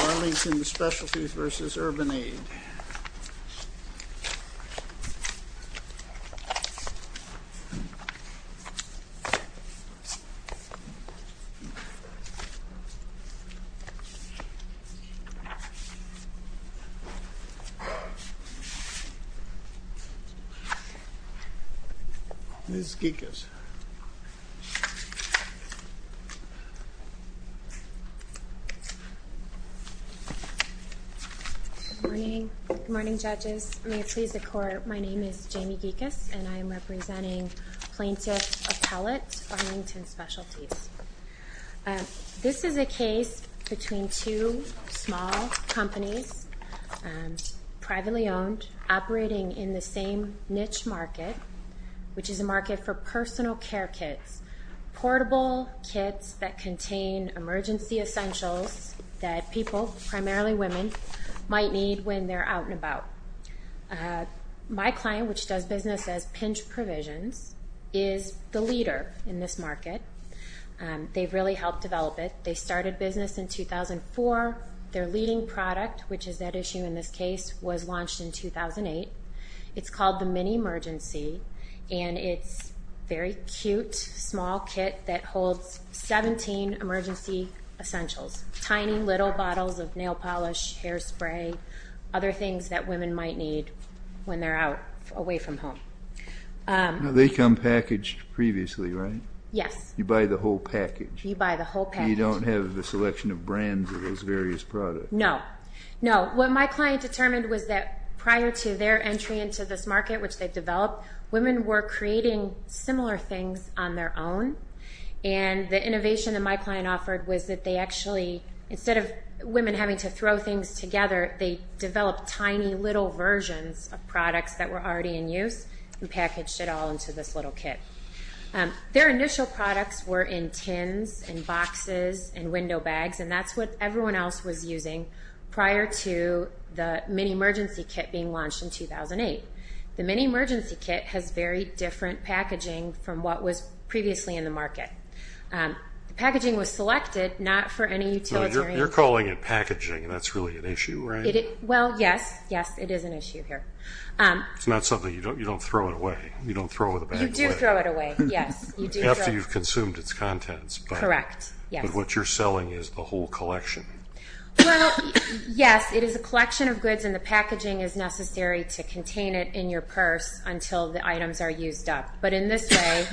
Arlington Specialties, Inc. v. Urban Aid, Inc. Ms. Gikas. Good morning, judges. May it please the Court, my name is Jamie Gikas, and I am representing Plaintiff Appellate, Arlington Specialties. This is a case between two small companies, privately owned, operating in the same niche market, which is a market for personal care kits, portable kits that contain emergency essentials that people, primarily women, might need when they're out and about. My client, which does business as Pinch Provisions, is the leader in this market. They've really helped develop it. They started business in 2004. Their leading product, which is that issue in this case, was launched in 2008. It's called the Mini Emergency, and it's a very cute, small kit that holds 17 emergency essentials. Tiny little bottles of nail polish, hairspray, other things that women might need when they're away from home. Now, they come packaged previously, right? Yes. You buy the whole package. You buy the whole package. You don't have the selection of brands of those various products. No. No. What my client determined was that prior to their entry into this market, which they've developed, women were creating similar things on their own, and the innovation that my client offered was that they actually, instead of women having to throw things together, they developed tiny little versions of products that were already in use and packaged it all into this little kit. Their initial products were in tins and boxes and window bags, and that's what everyone else was using prior to the Mini Emergency Kit being launched in 2008. The Mini Emergency Kit has very different packaging from what was previously in the market. The packaging was selected not for any utilitarian... You're calling it packaging, and that's really an issue, right? Well, yes. Yes, it is an issue here. It's not something you don't throw it away. You don't throw the bag away. You do throw it away, yes. After you've consumed its contents. Correct, yes. What you're selling is the whole collection. Well, yes, it is a collection of goods, and the packaging is necessary to contain it in your purse until the items are used up, but in this way,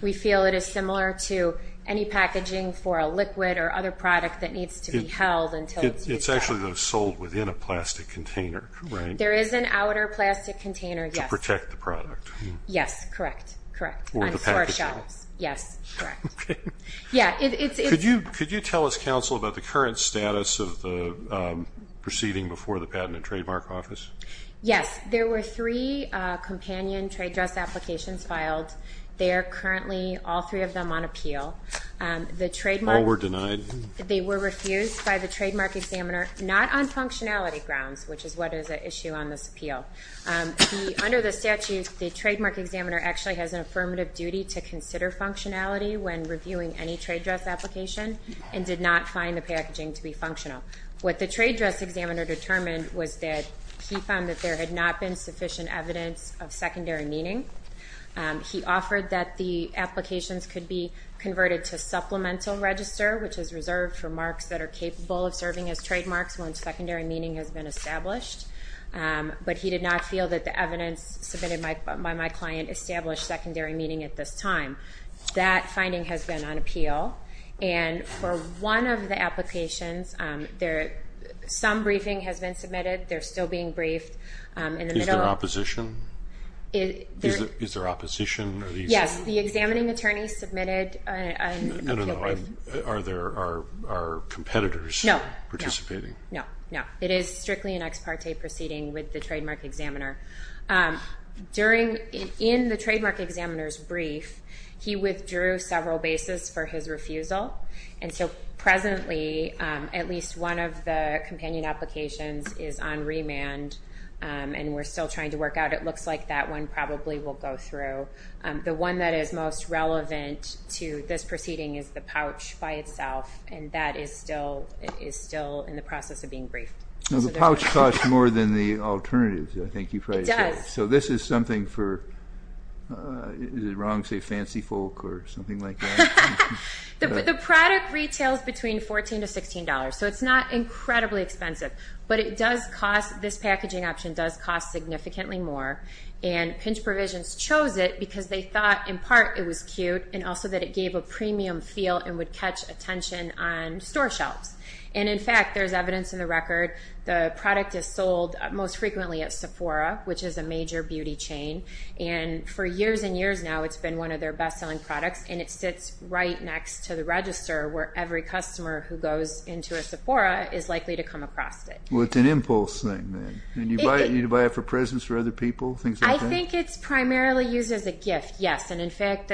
we feel it is similar to any packaging for a liquid or other product that needs to be held until it's used up. It's actually sold within a plastic container, right? There is an outer plastic container, yes. To protect the product. Yes, correct, correct. Or the packaging. Yes, correct. Okay. Yeah, it's... Could you tell us, Counsel, about the current status of the proceeding before the Patent and Trademark Office? Yes. There were three companion trade dress applications filed. They are currently, all three of them, on appeal. All were denied? They were refused by the Trademark Examiner, not on functionality grounds, which is what is at issue on this appeal. Under the statute, the Trademark Examiner actually has an affirmative duty to consider functionality when reviewing any trade dress application and did not find the packaging to be functional. What the trade dress examiner determined was that he found that there had not been sufficient evidence of secondary meaning. He offered that the applications could be converted to supplemental register, which is reserved for marks that are capable of serving as trademarks once secondary meaning has been established, but he did not feel that the evidence submitted by my client established secondary meaning at this time. That finding has been on appeal. And for one of the applications, some briefing has been submitted. They're still being briefed. Is there opposition? Is there opposition? Yes. The examining attorney submitted... No, no, no. Are competitors participating? No, no. It is strictly an ex parte proceeding with the Trademark Examiner. In the Trademark Examiner's brief, he withdrew several bases for his refusal, and so presently at least one of the companion applications is on remand and we're still trying to work out. It looks like that one probably will go through. The one that is most relevant to this proceeding is the pouch by itself, and that is still in the process of being briefed. The pouch costs more than the alternatives, I think you probably said. It does. So this is something for, is it wrong to say fancy folk or something like that? The product retails between $14 to $16, so it's not incredibly expensive, but it does cost, this packaging option does cost significantly more, and Pinch Provisions chose it because they thought in part it was cute and also that it gave a premium feel and would catch attention on store shelves. And in fact, there's evidence in the record, the product is sold most frequently at Sephora, which is a major beauty chain, and for years and years now it's been one of their best-selling products, and it sits right next to the register where every customer who goes into a Sephora is likely to come across it. Well, it's an impulse thing then. You need to buy it for presents for other people, things like that? I think it's primarily used as a gift, yes, and in fact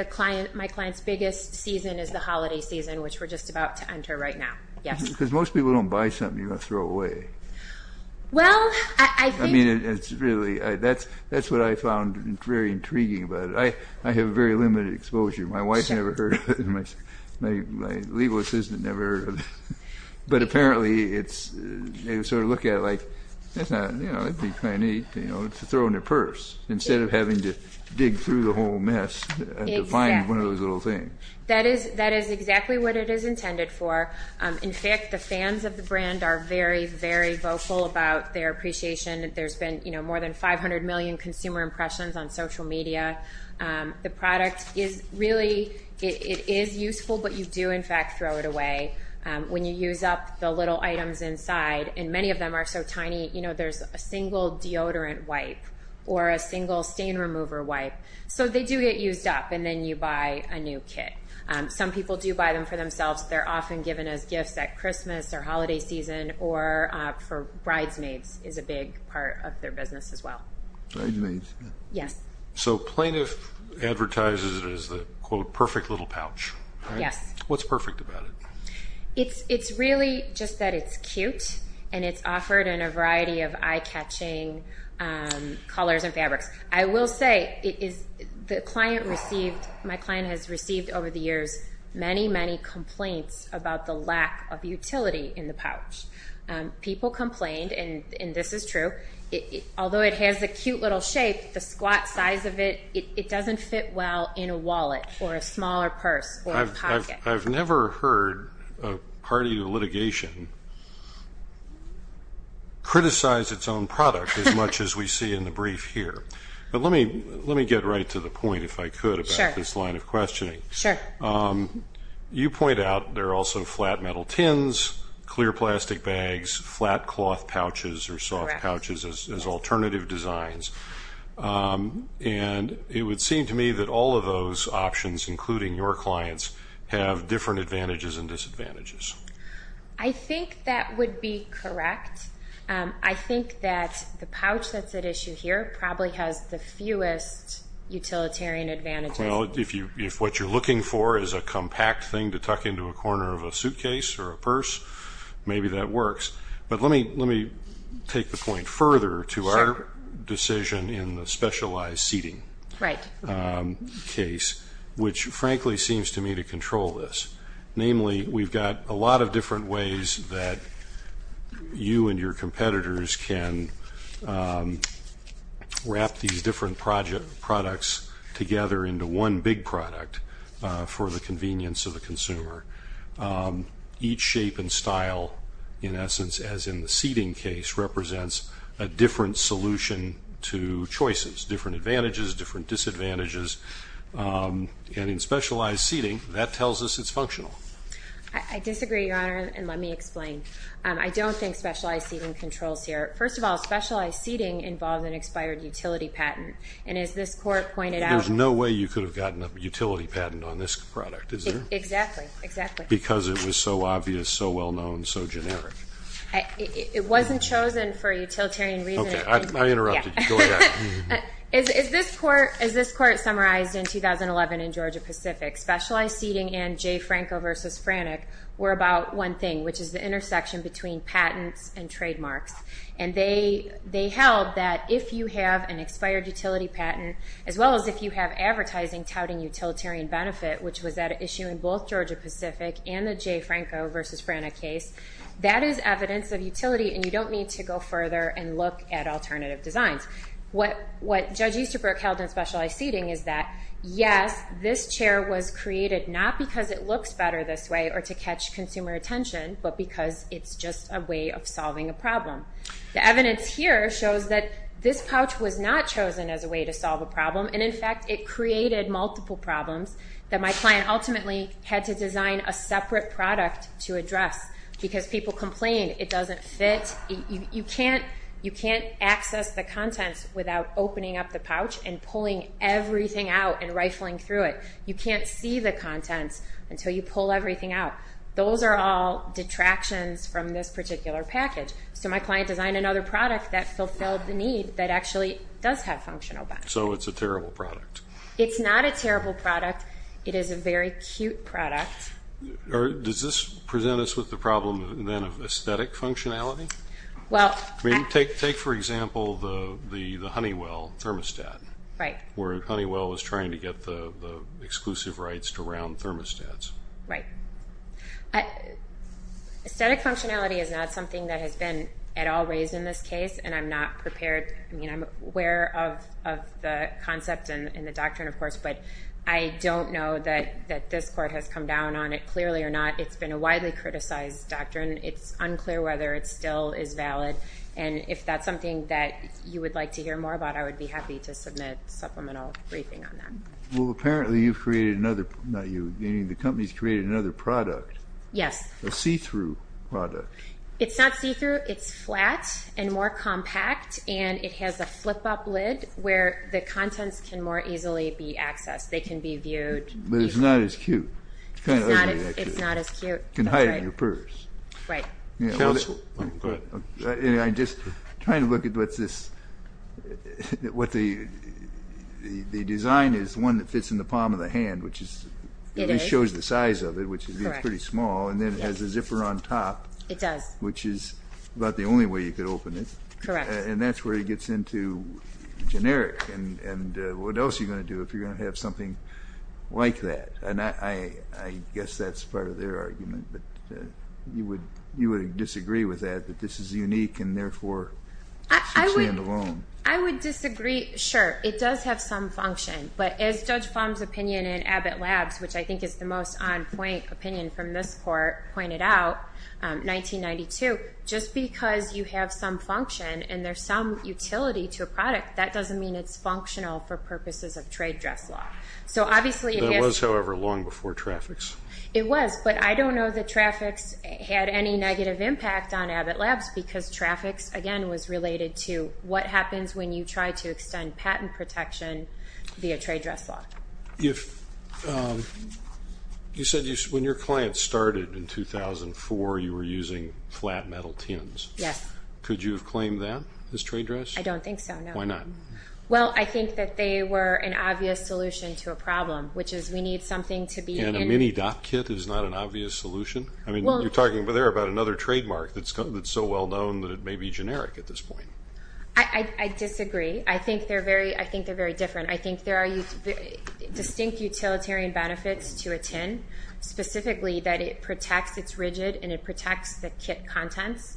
my client's biggest season is the holiday season, which we're just about to enter right now, yes. Because most people don't buy something you're going to throw away. Well, I think. I mean, it's really, that's what I found very intriguing about it. I have very limited exposure. My wife never heard of it, my legal assistant never heard of it, but apparently they sort of look at it like that's not, you know, that'd be kind of neat, you know, to throw in their purse instead of having to dig through the whole mess to find one of those little things. That is exactly what it is intended for. In fact, the fans of the brand are very, very vocal about their appreciation. There's been, you know, more than 500 million consumer impressions on social media. The product is really, it is useful, but you do in fact throw it away when you use up the little items inside, and many of them are so tiny, you know, there's a single deodorant wipe or a single stain remover wipe. So they do get used up, and then you buy a new kit. Some people do buy them for themselves. They're often given as gifts at Christmas or holiday season or for bridesmaids is a big part of their business as well. Bridesmaids. Yes. So plaintiff advertises it as the, quote, perfect little pouch, right? Yes. What's perfect about it? It's really just that it's cute, and it's offered in a variety of eye-catching colors and fabrics. I will say the client received, my client has received over the years, many, many complaints about the lack of utility in the pouch. People complained, and this is true. Although it has a cute little shape, the squat size of it, it doesn't fit well in a wallet or a smaller purse or a pocket. I've never heard a party to litigation criticize its own product as much as we see in the brief here. But let me get right to the point, if I could, about this line of questioning. Sure. You point out there are also flat metal tins, clear plastic bags, flat cloth pouches or soft pouches as alternative designs. And it would seem to me that all of those options, including your clients, have different advantages and disadvantages. I think that would be correct. I think that the pouch that's at issue here probably has the fewest utilitarian advantages. Well, if what you're looking for is a compact thing to tuck into a corner of a suitcase or a purse, maybe that works. But let me take the point further to our decision in the specialized seating case, which, frankly, seems to me to control this. Namely, we've got a lot of different ways that you and your competitors can wrap these different products together into one big product for the convenience of the consumer. Each shape and style, in essence, as in the seating case, represents a different solution to choices, different advantages, different disadvantages. And in specialized seating, that tells us it's functional. I disagree, Your Honor, and let me explain. I don't think specialized seating controls here. First of all, specialized seating involves an expired utility patent. And as this court pointed out – There's no way you could have gotten a utility patent on this product, is there? Exactly, exactly. Because it was so obvious, so well-known, so generic. It wasn't chosen for utilitarian reasons. Okay, I interrupted you. Go ahead. As this court summarized in 2011 in Georgia-Pacific, specialized seating and Jay Franco v. Frannich were about one thing, which is the intersection between patents and trademarks. And they held that if you have an expired utility patent, as well as if you have advertising touting utilitarian benefit, which was at issue in both Georgia-Pacific and the Jay Franco v. Frannich case, that is evidence of utility, and you don't need to go further and look at alternative designs. What Judge Easterbrook held in specialized seating is that, yes, this chair was created not because it looks better this way or to catch consumer attention, but because it's just a way of solving a problem. The evidence here shows that this pouch was not chosen as a way to solve a problem, and, in fact, it created multiple problems that my client ultimately had to design a separate product to address because people complained it doesn't fit. You can't access the contents without opening up the pouch and pulling everything out and rifling through it. You can't see the contents until you pull everything out. Those are all detractions from this particular package. So my client designed another product that fulfilled the need that actually does have functional benefit. So it's a terrible product. It's not a terrible product. It is a very cute product. Does this present us with the problem, then, of aesthetic functionality? Take, for example, the Honeywell thermostat, where Honeywell was trying to get the exclusive rights to round thermostats. Right. Aesthetic functionality is not something that has been at all raised in this case, and I'm not prepared. I mean, I'm aware of the concept and the doctrine, of course, but I don't know that this court has come down on it, clearly or not. It's been a widely criticized doctrine. It's unclear whether it still is valid, and if that's something that you would like to hear more about, I would be happy to submit a supplemental briefing on that. Well, apparently, you've created another – not you. The company's created another product. Yes. A see-through product. It's not see-through. It's flatter. It's flat and more compact, and it has a flip-up lid where the contents can more easily be accessed. They can be viewed easily. But it's not as cute. It's not as cute. You can hide it in your purse. Right. Counsel, go ahead. I'm just trying to look at what this – what the design is, one that fits in the palm of the hand, which at least shows the size of it, which is pretty small, and then has a zipper on top. It does. Which is about the only way you could open it. Correct. And that's where it gets into generic. And what else are you going to do if you're going to have something like that? And I guess that's part of their argument. But you would disagree with that, that this is unique and therefore should stand alone. I would disagree. Sure. It does have some function. But as Judge Plum's opinion in Abbott Labs, which I think is the most on-point opinion from this court, pointed out, 1992, just because you have some function and there's some utility to a product, that doesn't mean it's functional for purposes of trade dress law. That was, however, long before Trafix. It was, but I don't know that Trafix had any negative impact on Abbott Labs because Trafix, again, was related to what happens when you try to extend patent protection via trade dress law. You said when your client started in 2004, you were using flat metal tins. Yes. Could you have claimed that as trade dress? I don't think so, no. Why not? Well, I think that they were an obvious solution to a problem, which is we need something to be in. And a mini-dop kit is not an obvious solution? I mean, you're talking there about another trademark that's so well-known that it may be generic at this point. I disagree. I think they're very different. I think there are distinct utilitarian benefits to a tin, specifically that it protects, it's rigid, and it protects the kit contents.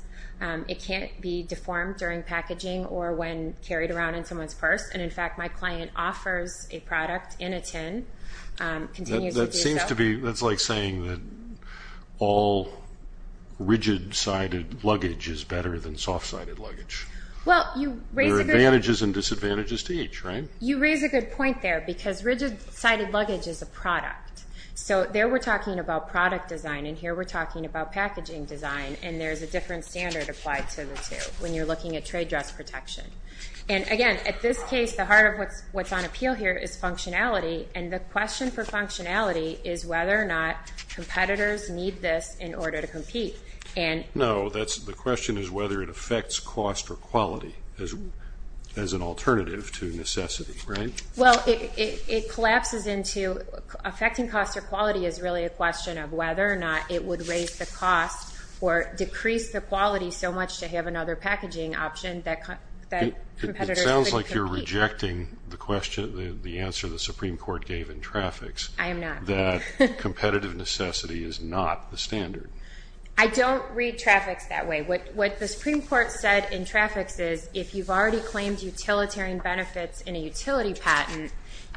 It can't be deformed during packaging or when carried around in someone's purse. And, in fact, my client offers a product in a tin, continues to do so. It seems to be that's like saying that all rigid-sided luggage is better than soft-sided luggage. Well, you raise a good point. There are advantages and disadvantages to each, right? You raise a good point there because rigid-sided luggage is a product. So there we're talking about product design, and here we're talking about packaging design, and there's a different standard applied to the two when you're looking at trade dress protection. And, again, at this case, the heart of what's on appeal here is functionality, and the question for functionality is whether or not competitors need this in order to compete. No, the question is whether it affects cost or quality as an alternative to necessity, right? Well, it collapses into affecting cost or quality is really a question of whether or not it would raise the cost or decrease the quality so much to have another packaging option that competitors could compete. It sounds like you're rejecting the answer the Supreme Court gave in traffics. I am not. That competitive necessity is not the standard. I don't read traffics that way. What the Supreme Court said in traffics is if you've already claimed utilitarian benefits in a utility patent,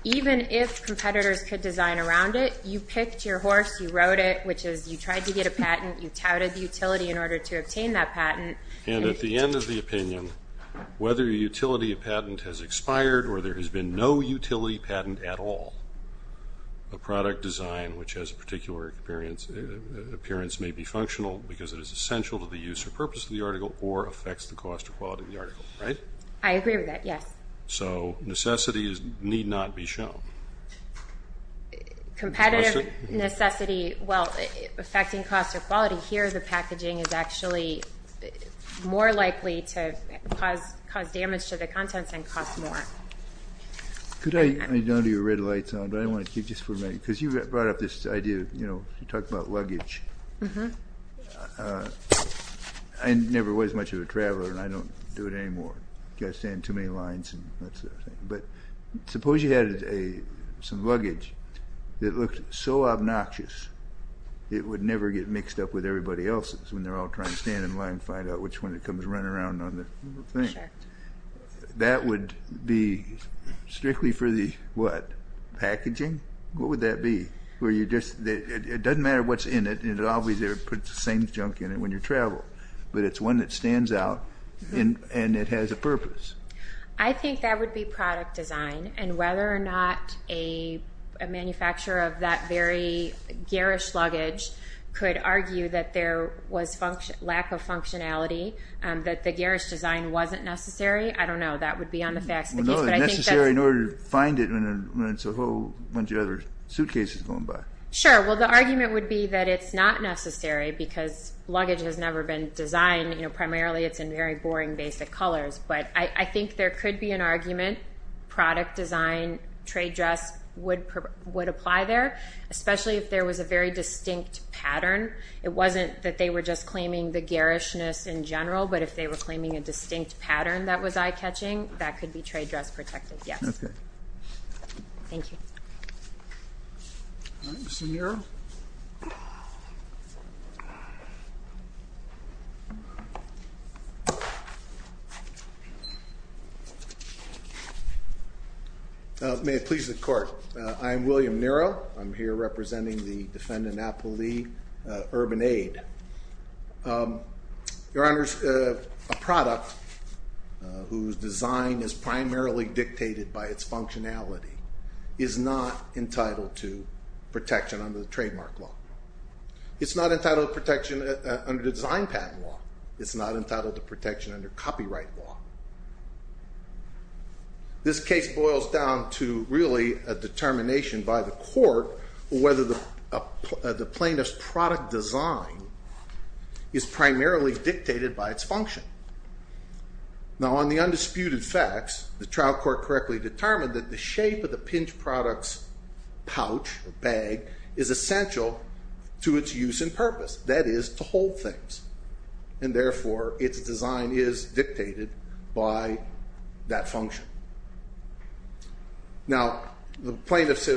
even if competitors could design around it, you picked your horse, you rode it, which is you tried to get a patent, you touted the utility in order to obtain that patent. And at the end of the opinion, whether a utility patent has expired or there has been no utility patent at all, a product design, which has a particular appearance may be functional because it is essential to the use or purpose of the article or affects the cost or quality of the article, right? I agree with that, yes. So necessities need not be shown. Competitive necessity, well, affecting cost or quality, here the packaging is actually more likely to cause damage to the contents and cost more. Could I nod your red lights on, but I want to keep this for a minute, because you brought up this idea, you know, you talked about luggage. I never was much of a traveler, and I don't do it anymore. You've got to stand too many lines and that sort of thing. But suppose you had some luggage that looked so obnoxious, it would never get mixed up with everybody else's when they're all trying to stand in line and find out which one comes running around on the thing. That would be strictly for the, what, packaging? What would that be? It doesn't matter what's in it. It always puts the same junk in it when you travel, but it's one that stands out and it has a purpose. I think that would be product design, and whether or not a manufacturer of that very garish luggage could argue that there was lack of functionality, that the garish design wasn't necessary, I don't know. That would be on the facts of the case. Well, no, they're necessary in order to find it when it's a whole bunch of other suitcases going by. Sure. Well, the argument would be that it's not necessary because luggage has never been designed, you know, primarily it's in very boring basic colors. But I think there could be an argument, product design, trade dress would apply there, especially if there was a very distinct pattern. It wasn't that they were just claiming the garishness in general, but if they were claiming a distinct pattern that was eye-catching, that could be trade dress protected, yes. Okay. Thank you. All right. Mr. Nero. May it please the Court. I am William Nero. I'm here representing the defendant, Apple Lee, urban aid. Your Honors, a product whose design is primarily dictated by its functionality is not entitled to protection under the trademark law. It's not entitled to protection under the design patent law. It's not entitled to protection under copyright law. This case boils down to really a determination by the court whether the plaintiff's product design is primarily dictated by its function. Now, on the undisputed facts, the trial court correctly determined that the shape of the pinch product's pouch, bag, is essential to its use and purpose, that is, to hold things. And therefore, its design is dictated by that function. Now, the plaintiff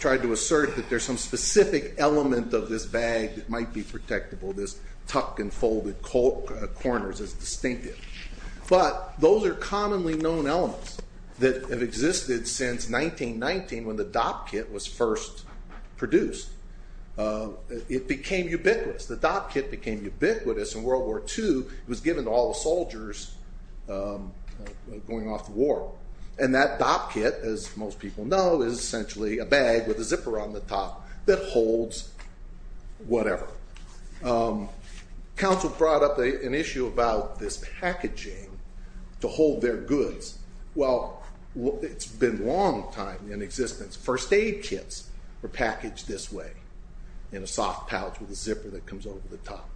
tried to assert that there's some specific element of this bag that might be protectable. This tuck and folded corners is distinctive. But those are commonly known elements that have existed since 1919 when the Dopp kit was first produced. It became ubiquitous. The Dopp kit became ubiquitous in World War II. It was given to all the soldiers going off to war. And that Dopp kit, as most people know, is essentially a bag with a zipper on the top that holds whatever. Counsel brought up an issue about this packaging to hold their goods. Well, it's been a long time in existence. First aid kits were packaged this way, in a soft pouch with a zipper that comes over the top.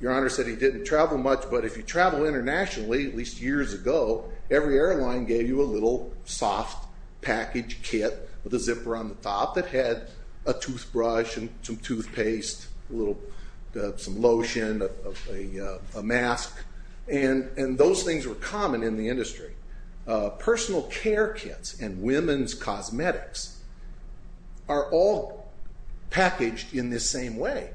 Your Honor said he didn't travel much, but if you travel internationally, at least years ago, every airline gave you a little soft package kit with a zipper on the top that had a toothbrush and some toothpaste, some lotion, a mask. And those things were common in the industry. Personal care kits and women's cosmetics are all packaged in this same way,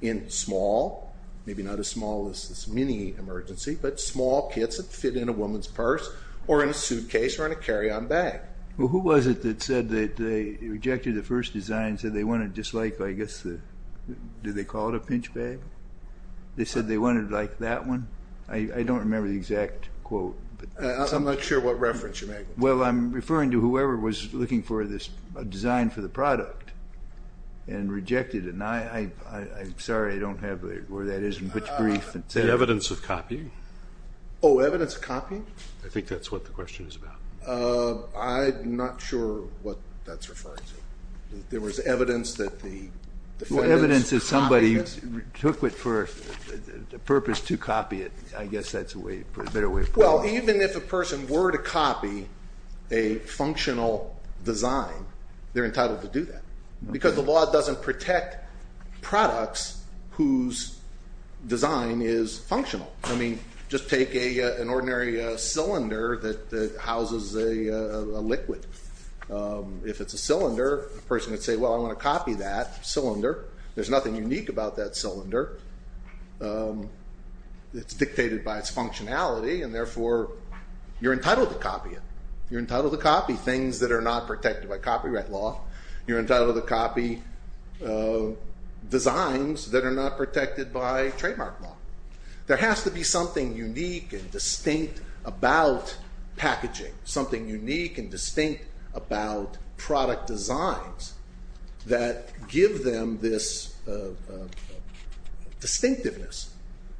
in small, maybe not as small as this mini-emergency, but small kits that fit in a woman's purse or in a suitcase or in a carry-on bag. Well, who was it that said that they rejected the first design and said they wanted it just like, I guess, did they call it a pinch bag? They said they wanted it like that one? I don't remember the exact quote. I'm not sure what reference you're making. Well, I'm referring to whoever was looking for this design for the product and rejected it. I'm sorry, I don't have where that is in which brief. The evidence of copying? Oh, evidence of copying? I think that's what the question is about. I'm not sure what that's referring to. There was evidence that the defendants copied it? Well, evidence that somebody took it for the purpose to copy it. I guess that's a better way of putting it. Well, even if a person were to copy a functional design, they're entitled to do that, because the law doesn't protect products whose design is functional. I mean, just take an ordinary cylinder that houses a liquid. If it's a cylinder, a person would say, well, I want to copy that cylinder. There's nothing unique about that cylinder. It's dictated by its functionality, and therefore you're entitled to copy it. You're entitled to copy things that are not protected by copyright law. You're entitled to copy designs that are not protected by trademark law. There has to be something unique and distinct about packaging, something unique and distinct about product designs that give them this distinctiveness.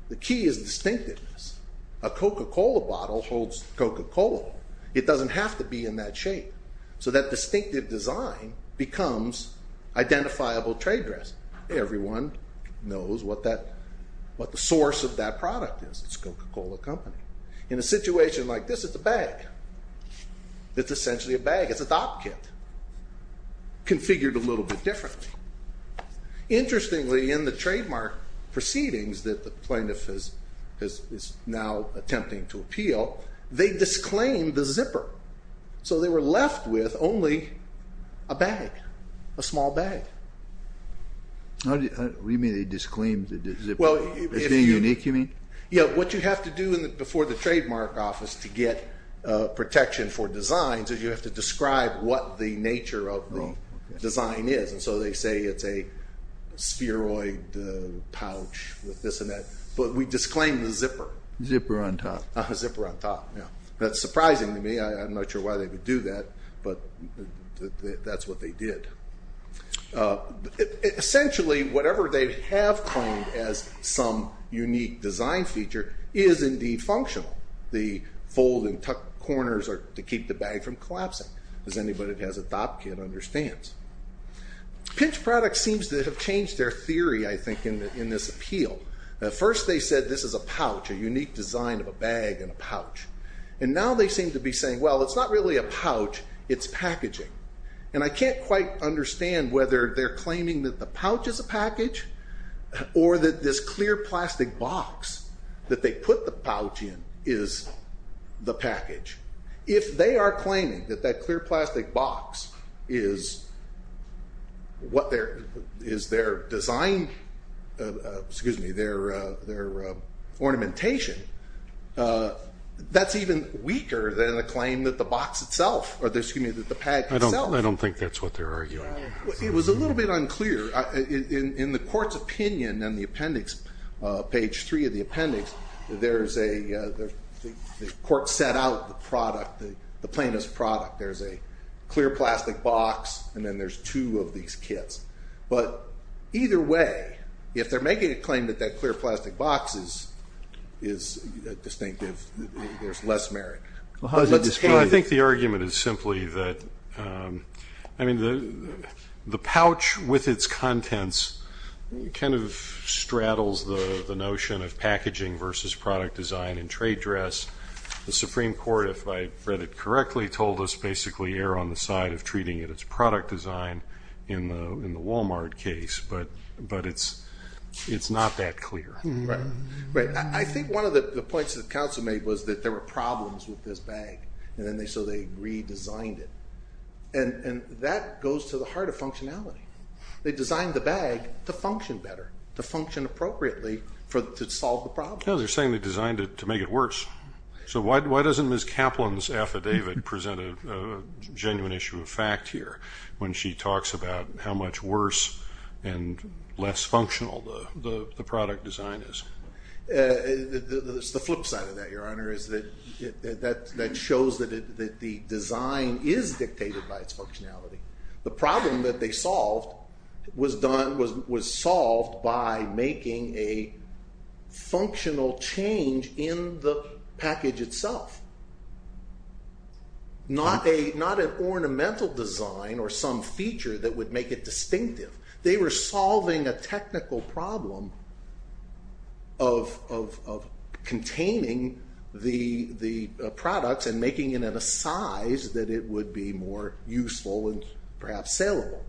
The key is distinctiveness. A Coca-Cola bottle holds Coca-Cola. It doesn't have to be in that shape. So that distinctive design becomes identifiable trade dress. Everyone knows what the source of that product is. It's Coca-Cola Company. In a situation like this, it's a bag. It's essentially a bag. It's a Dopp kit, configured a little bit differently. Interestingly, in the trademark proceedings that the plaintiff is now attempting to appeal, they disclaimed the zipper, so they were left with only a bag, a small bag. What do you mean they disclaimed the zipper? It's being unique, you mean? Yeah, what you have to do before the trademark office to get protection for designs is you have to describe what the nature of the design is. And so they say it's a spheroid pouch with this and that. But we disclaimed the zipper. Zipper on top. Zipper on top, yeah. That's surprising to me. I'm not sure why they would do that, but that's what they did. Essentially, whatever they have claimed as some unique design feature is indeed functional. The fold and tuck corners are to keep the bag from collapsing, as anybody that has a Dopp kit understands. Pinch Products seems to have changed their theory, I think, in this appeal. At first they said this is a pouch, a unique design of a bag and a pouch. And now they seem to be saying, well, it's not really a pouch, it's packaging. And I can't quite understand whether they're claiming that the pouch is a package or that this clear plastic box that they put the pouch in is the package. If they are claiming that that clear plastic box is their design, excuse me, their ornamentation, that's even weaker than the claim that the box itself, or excuse me, that the bag itself. I don't think that's what they're arguing. It was a little bit unclear. In the court's opinion on the appendix, page 3 of the appendix, the court set out the product, the plaintiff's product. There's a clear plastic box, and then there's two of these kits. But either way, if they're making a claim that that clear plastic box is distinctive, there's less merit. I think the argument is simply that, I mean, the pouch with its contents kind of straddles the notion of packaging versus product design in trade dress. The Supreme Court, if I read it correctly, told us basically err on the side of treating it as product design in the Walmart case, but it's not that clear. Right. I think one of the points that counsel made was that there were problems with this bag, and so they redesigned it. And that goes to the heart of functionality. They designed the bag to function better, to function appropriately to solve the problem. No, they're saying they designed it to make it worse. So why doesn't Ms. Kaplan's affidavit present a genuine issue of fact here when she talks about how much worse and less functional the product design is? It's the flip side of that, Your Honor, is that that shows that the design is dictated by its functionality. The problem that they solved was solved by making a functional change in the package itself, not an ornamental design or some feature that would make it distinctive. They were solving a technical problem of containing the products and making it in a size that it would be more useful and perhaps saleable.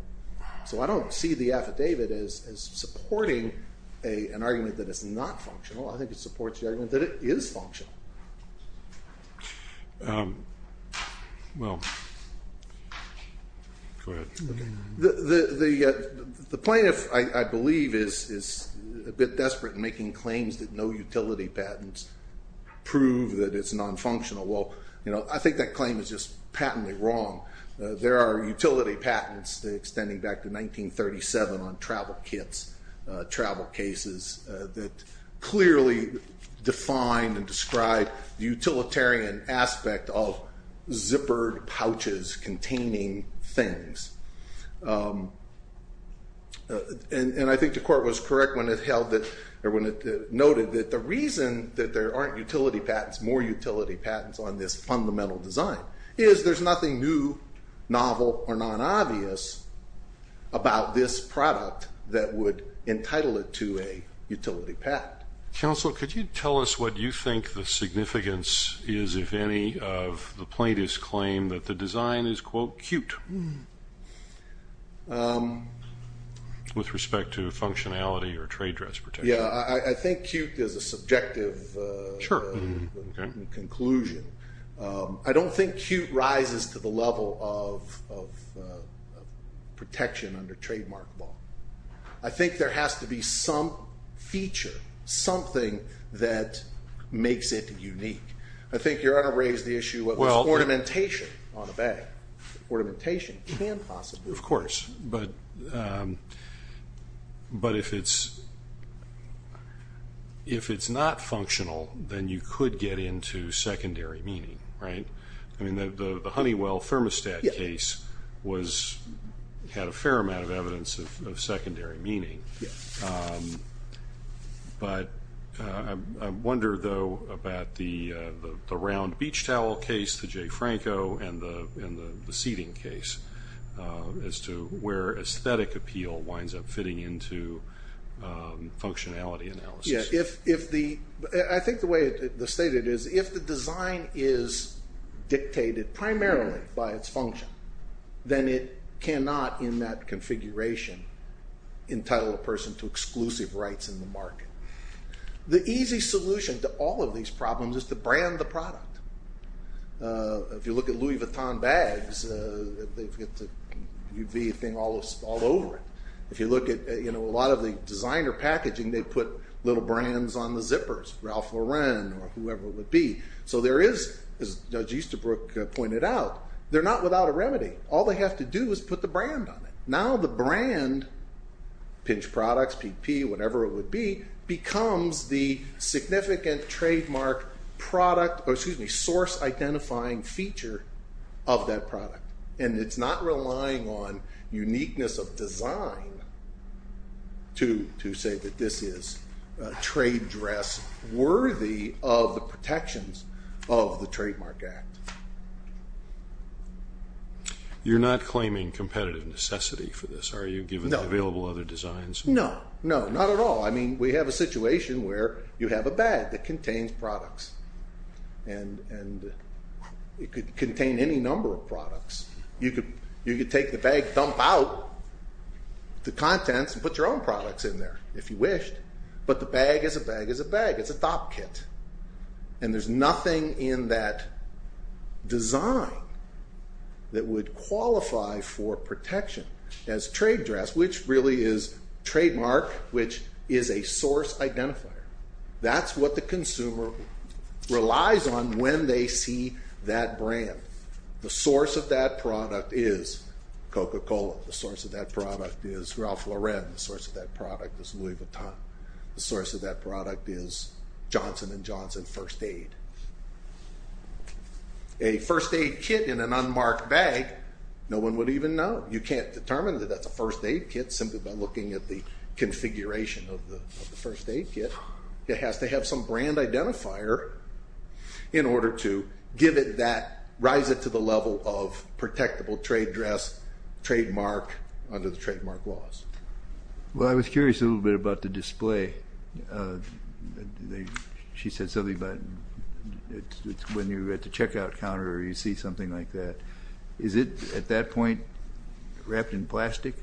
So I don't see the affidavit as supporting an argument that it's not functional. I think it supports the argument that it is functional. Well, go ahead. The plaintiff, I believe, is a bit desperate in making claims that no utility patents prove that it's nonfunctional. Well, I think that claim is just patently wrong. There are utility patents extending back to 1937 on travel kits, travel cases, that clearly define and describe the utilitarian aspect of zippered pouches containing things. And I think the court was correct when it noted that the reason that there aren't utility patents, more utility patents on this fundamental design is there's nothing new, novel, or non-obvious about this product that would entitle it to a utility patent. Counsel, could you tell us what you think the significance is, if any, of the plaintiff's claim that the design is, quote, cute with respect to functionality or trade dress protection? Yeah, I think cute is a subjective conclusion. I don't think cute rises to the level of protection under trademark law. I think there has to be some feature, something that makes it unique. I think Your Honor raised the issue of ornamentation on a bag. Ornamentation can possibly. Of course, but if it's not functional, then you could get into secondary meaning, right? I mean, the Honeywell thermostat case had a fair amount of evidence of secondary meaning. But I wonder, though, about the round beach towel case, the Jay Franco, and the seating case, as to where aesthetic appeal winds up fitting into functionality analysis. Yeah, I think the way it's stated is if the design is dictated primarily by its function, then it cannot, in that configuration, entitle a person to exclusive rights in the market. The easy solution to all of these problems is to brand the product. If you look at Louis Vuitton bags, they've got the UV thing all over it. If you look at a lot of the designer packaging, they put little brands on the zippers, Ralph Lauren or whoever it would be. So there is, as Judge Easterbrook pointed out, they're not without a remedy. All they have to do is put the brand on it. Now the brand, Pinch Products, PP, whatever it would be, becomes the significant trademark product, or excuse me, source-identifying feature of that product. It's not relying on uniqueness of design to say that this is a trade dress worthy of the protections of the Trademark Act. You're not claiming competitive necessity for this, are you, given the available other designs? No, not at all. We have a situation where you have a bag that contains products. It could contain any number of products. You could take the bag, dump out the contents, and put your own products in there, if you wished. But the bag is a bag is a bag. It's a top kit. And there's nothing in that design that would qualify for protection as trade dress, which really is trademark, which is a source identifier. That's what the consumer relies on when they see that brand. The source of that product is Coca-Cola. The source of that product is Ralph Lauren. The source of that product is Louis Vuitton. The source of that product is Johnson & Johnson First Aid. A First Aid kit in an unmarked bag, no one would even know. You can't determine that that's a First Aid kit simply by looking at the configuration of the First Aid kit. It has to have some brand identifier in order to give it that, rise it to the level of protectable trade dress, trademark, under the trademark laws. Well, I was curious a little bit about the display. She said something about when you're at the checkout counter, you see something like that. Is it, at that point, wrapped in plastic?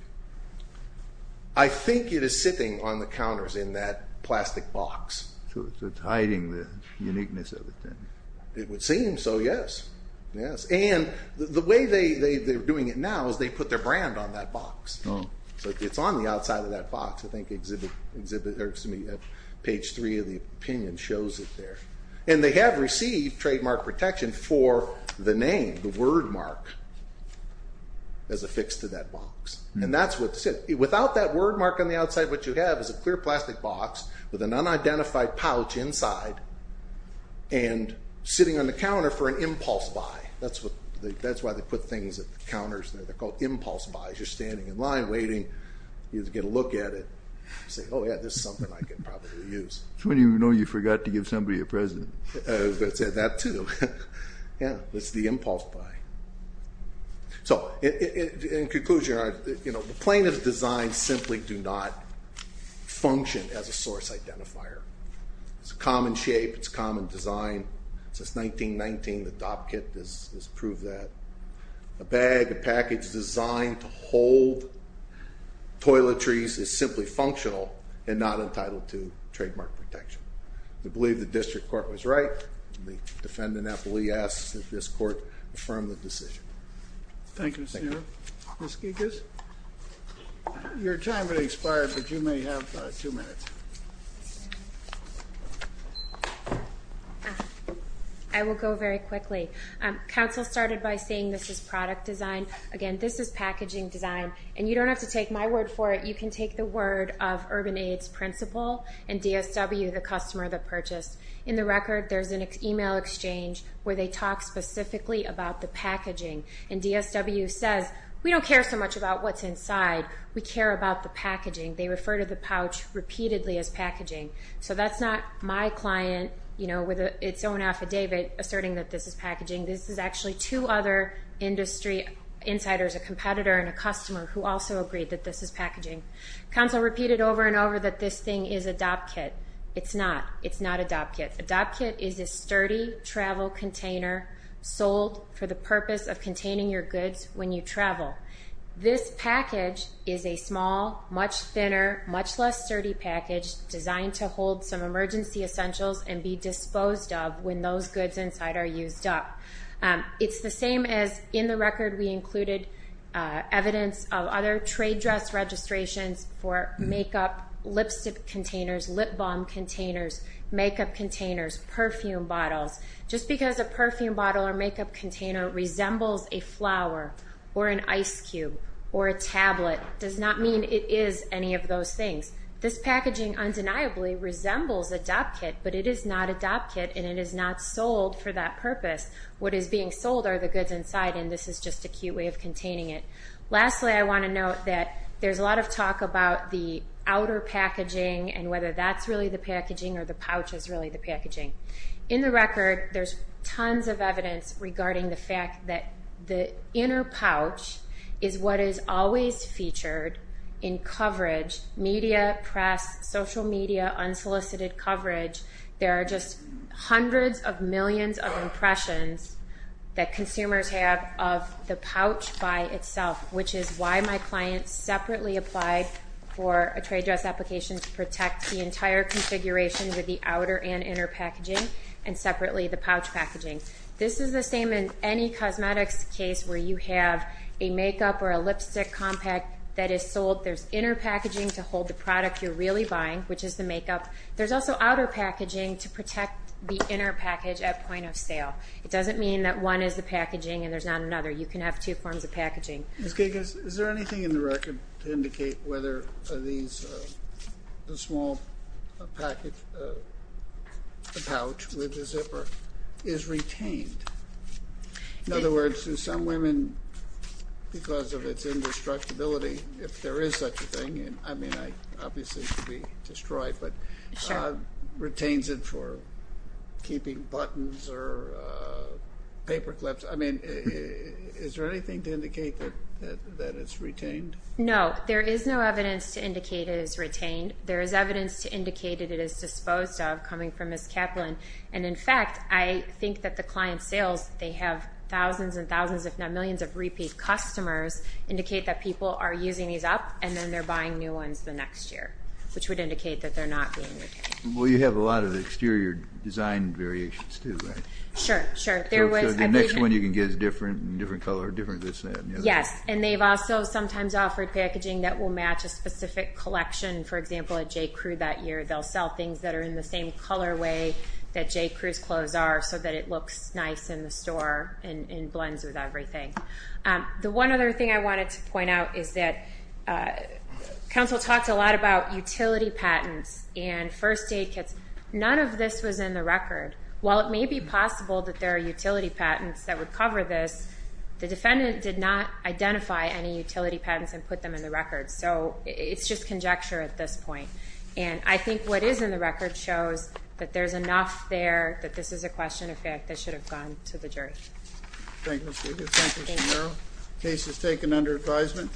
I think it is sitting on the counters in that plastic box. So it's hiding the uniqueness of it, then? It would seem so, yes. And the way they're doing it now is they put their brand on that box. So it's on the outside of that box. I think exhibit, or excuse me, page three of the opinion shows it there. And they have received trademark protection for the name, the word mark, as affixed to that box. And that's what, without that word mark on the outside, what you have is a clear plastic box with an unidentified pouch inside and sitting on the counter for an impulse buy. That's what, that's why they put things at the counters there. They're called impulse buys. You're standing in line waiting to get a look at it. You say, oh, yeah, this is something I could probably use. That's when you know you forgot to give somebody a present. I was going to say that, too. Yeah, it's the impulse buy. So, in conclusion, the plaintiff's designs simply do not function as a source identifier. It's a common shape. It's a common design. Since 1919, the Dopp kit has proved that. A bag, a package designed to hold toiletries, is simply functional and not entitled to trademark protection. We believe the district court was right. The defendant, Appleby, asks that this court affirm the decision. Thank you, Mr. Neal. Ms. Gigas? Your time has expired, but you may have two minutes. I will go very quickly. Counsel started by saying this is product design. Again, this is packaging design. And you don't have to take my word for it. You can take the word of Urban Aid's principal and DSW, the customer that purchased. In the record, there's an email exchange where they talk specifically about the packaging. And DSW says, we don't care so much about what's inside. We care about the packaging. They refer to the pouch repeatedly as packaging. So that's not my client with its own affidavit asserting that this is packaging. This is actually two other industry insiders, a competitor and a customer, who also agreed that this is packaging. Counsel repeated over and over that this thing is a Dopp kit. It's not. It's not a Dopp kit. A Dopp kit is a sturdy travel container sold for the purpose of containing your goods when you travel. This package is a small, much thinner, much less sturdy package designed to hold some emergency essentials and be disposed of when those goods inside are used up. It's the same as in the record we included evidence of other trade dress registrations for makeup, lipstick containers, lip balm containers, makeup containers, perfume bottles. Just because a perfume bottle or makeup container resembles a flower or an ice cube or a tablet does not mean it is any of those things. This packaging undeniably resembles a Dopp kit, but it is not a Dopp kit and it is not sold for that purpose. What is being sold are the goods inside, and this is just a cute way of containing it. Lastly, I want to note that there's a lot of talk about the outer packaging and whether that's really the packaging or the pouch is really the packaging. In the record, there's tons of evidence regarding the fact that the inner pouch is what is always featured in coverage, media, press, social media, unsolicited coverage. There are just hundreds of millions of impressions that consumers have of the pouch by itself, which is why my client separately applied for a trade dress application to protect the entire configuration with the outer and inner packaging and separately the pouch packaging. This is the same in any cosmetics case where you have a makeup or a lipstick compact that is sold. There's inner packaging to hold the product you're really buying, which is the makeup. There's also outer packaging to protect the inner package at point of sale. It doesn't mean that one is the packaging and there's not another. You can have two forms of packaging. Ms. Gigas, is there anything in the record to indicate whether the small pouch with the zipper is retained? In other words, do some women, because of its indestructibility, if there is such a thing, I mean, obviously it could be destroyed, but retains it for keeping buttons or paper clips. I mean, is there anything to indicate that it's retained? No. There is no evidence to indicate it is retained. There is evidence to indicate it is disposed of coming from Ms. Kaplan. And, in fact, I think that the client sales, they have thousands and thousands, if not millions, of repeat customers indicate that people are using these up, and then they're buying new ones the next year, which would indicate that they're not being retained. Well, you have a lot of exterior design variations, too, right? Sure, sure. So the next one you can get is different, different color, different this and that. Yes. And they've also sometimes offered packaging that will match a specific collection. For example, at J.Crew that year, they'll sell things that are in the same colorway that J.Crew's clothes are so that it looks nice in the store and blends with everything. The one other thing I wanted to point out is that counsel talked a lot about utility patents and first aid kits. None of this was in the record. While it may be possible that there are utility patents that would cover this, the defendant did not identify any utility patents and put them in the record. So it's just conjecture at this point. And I think what is in the record shows that there's enough there that this is a question of fact that should have gone to the jury. Thank you, Mr. Davis. Thank you, Mr. Merrill. The case is taken under advisement.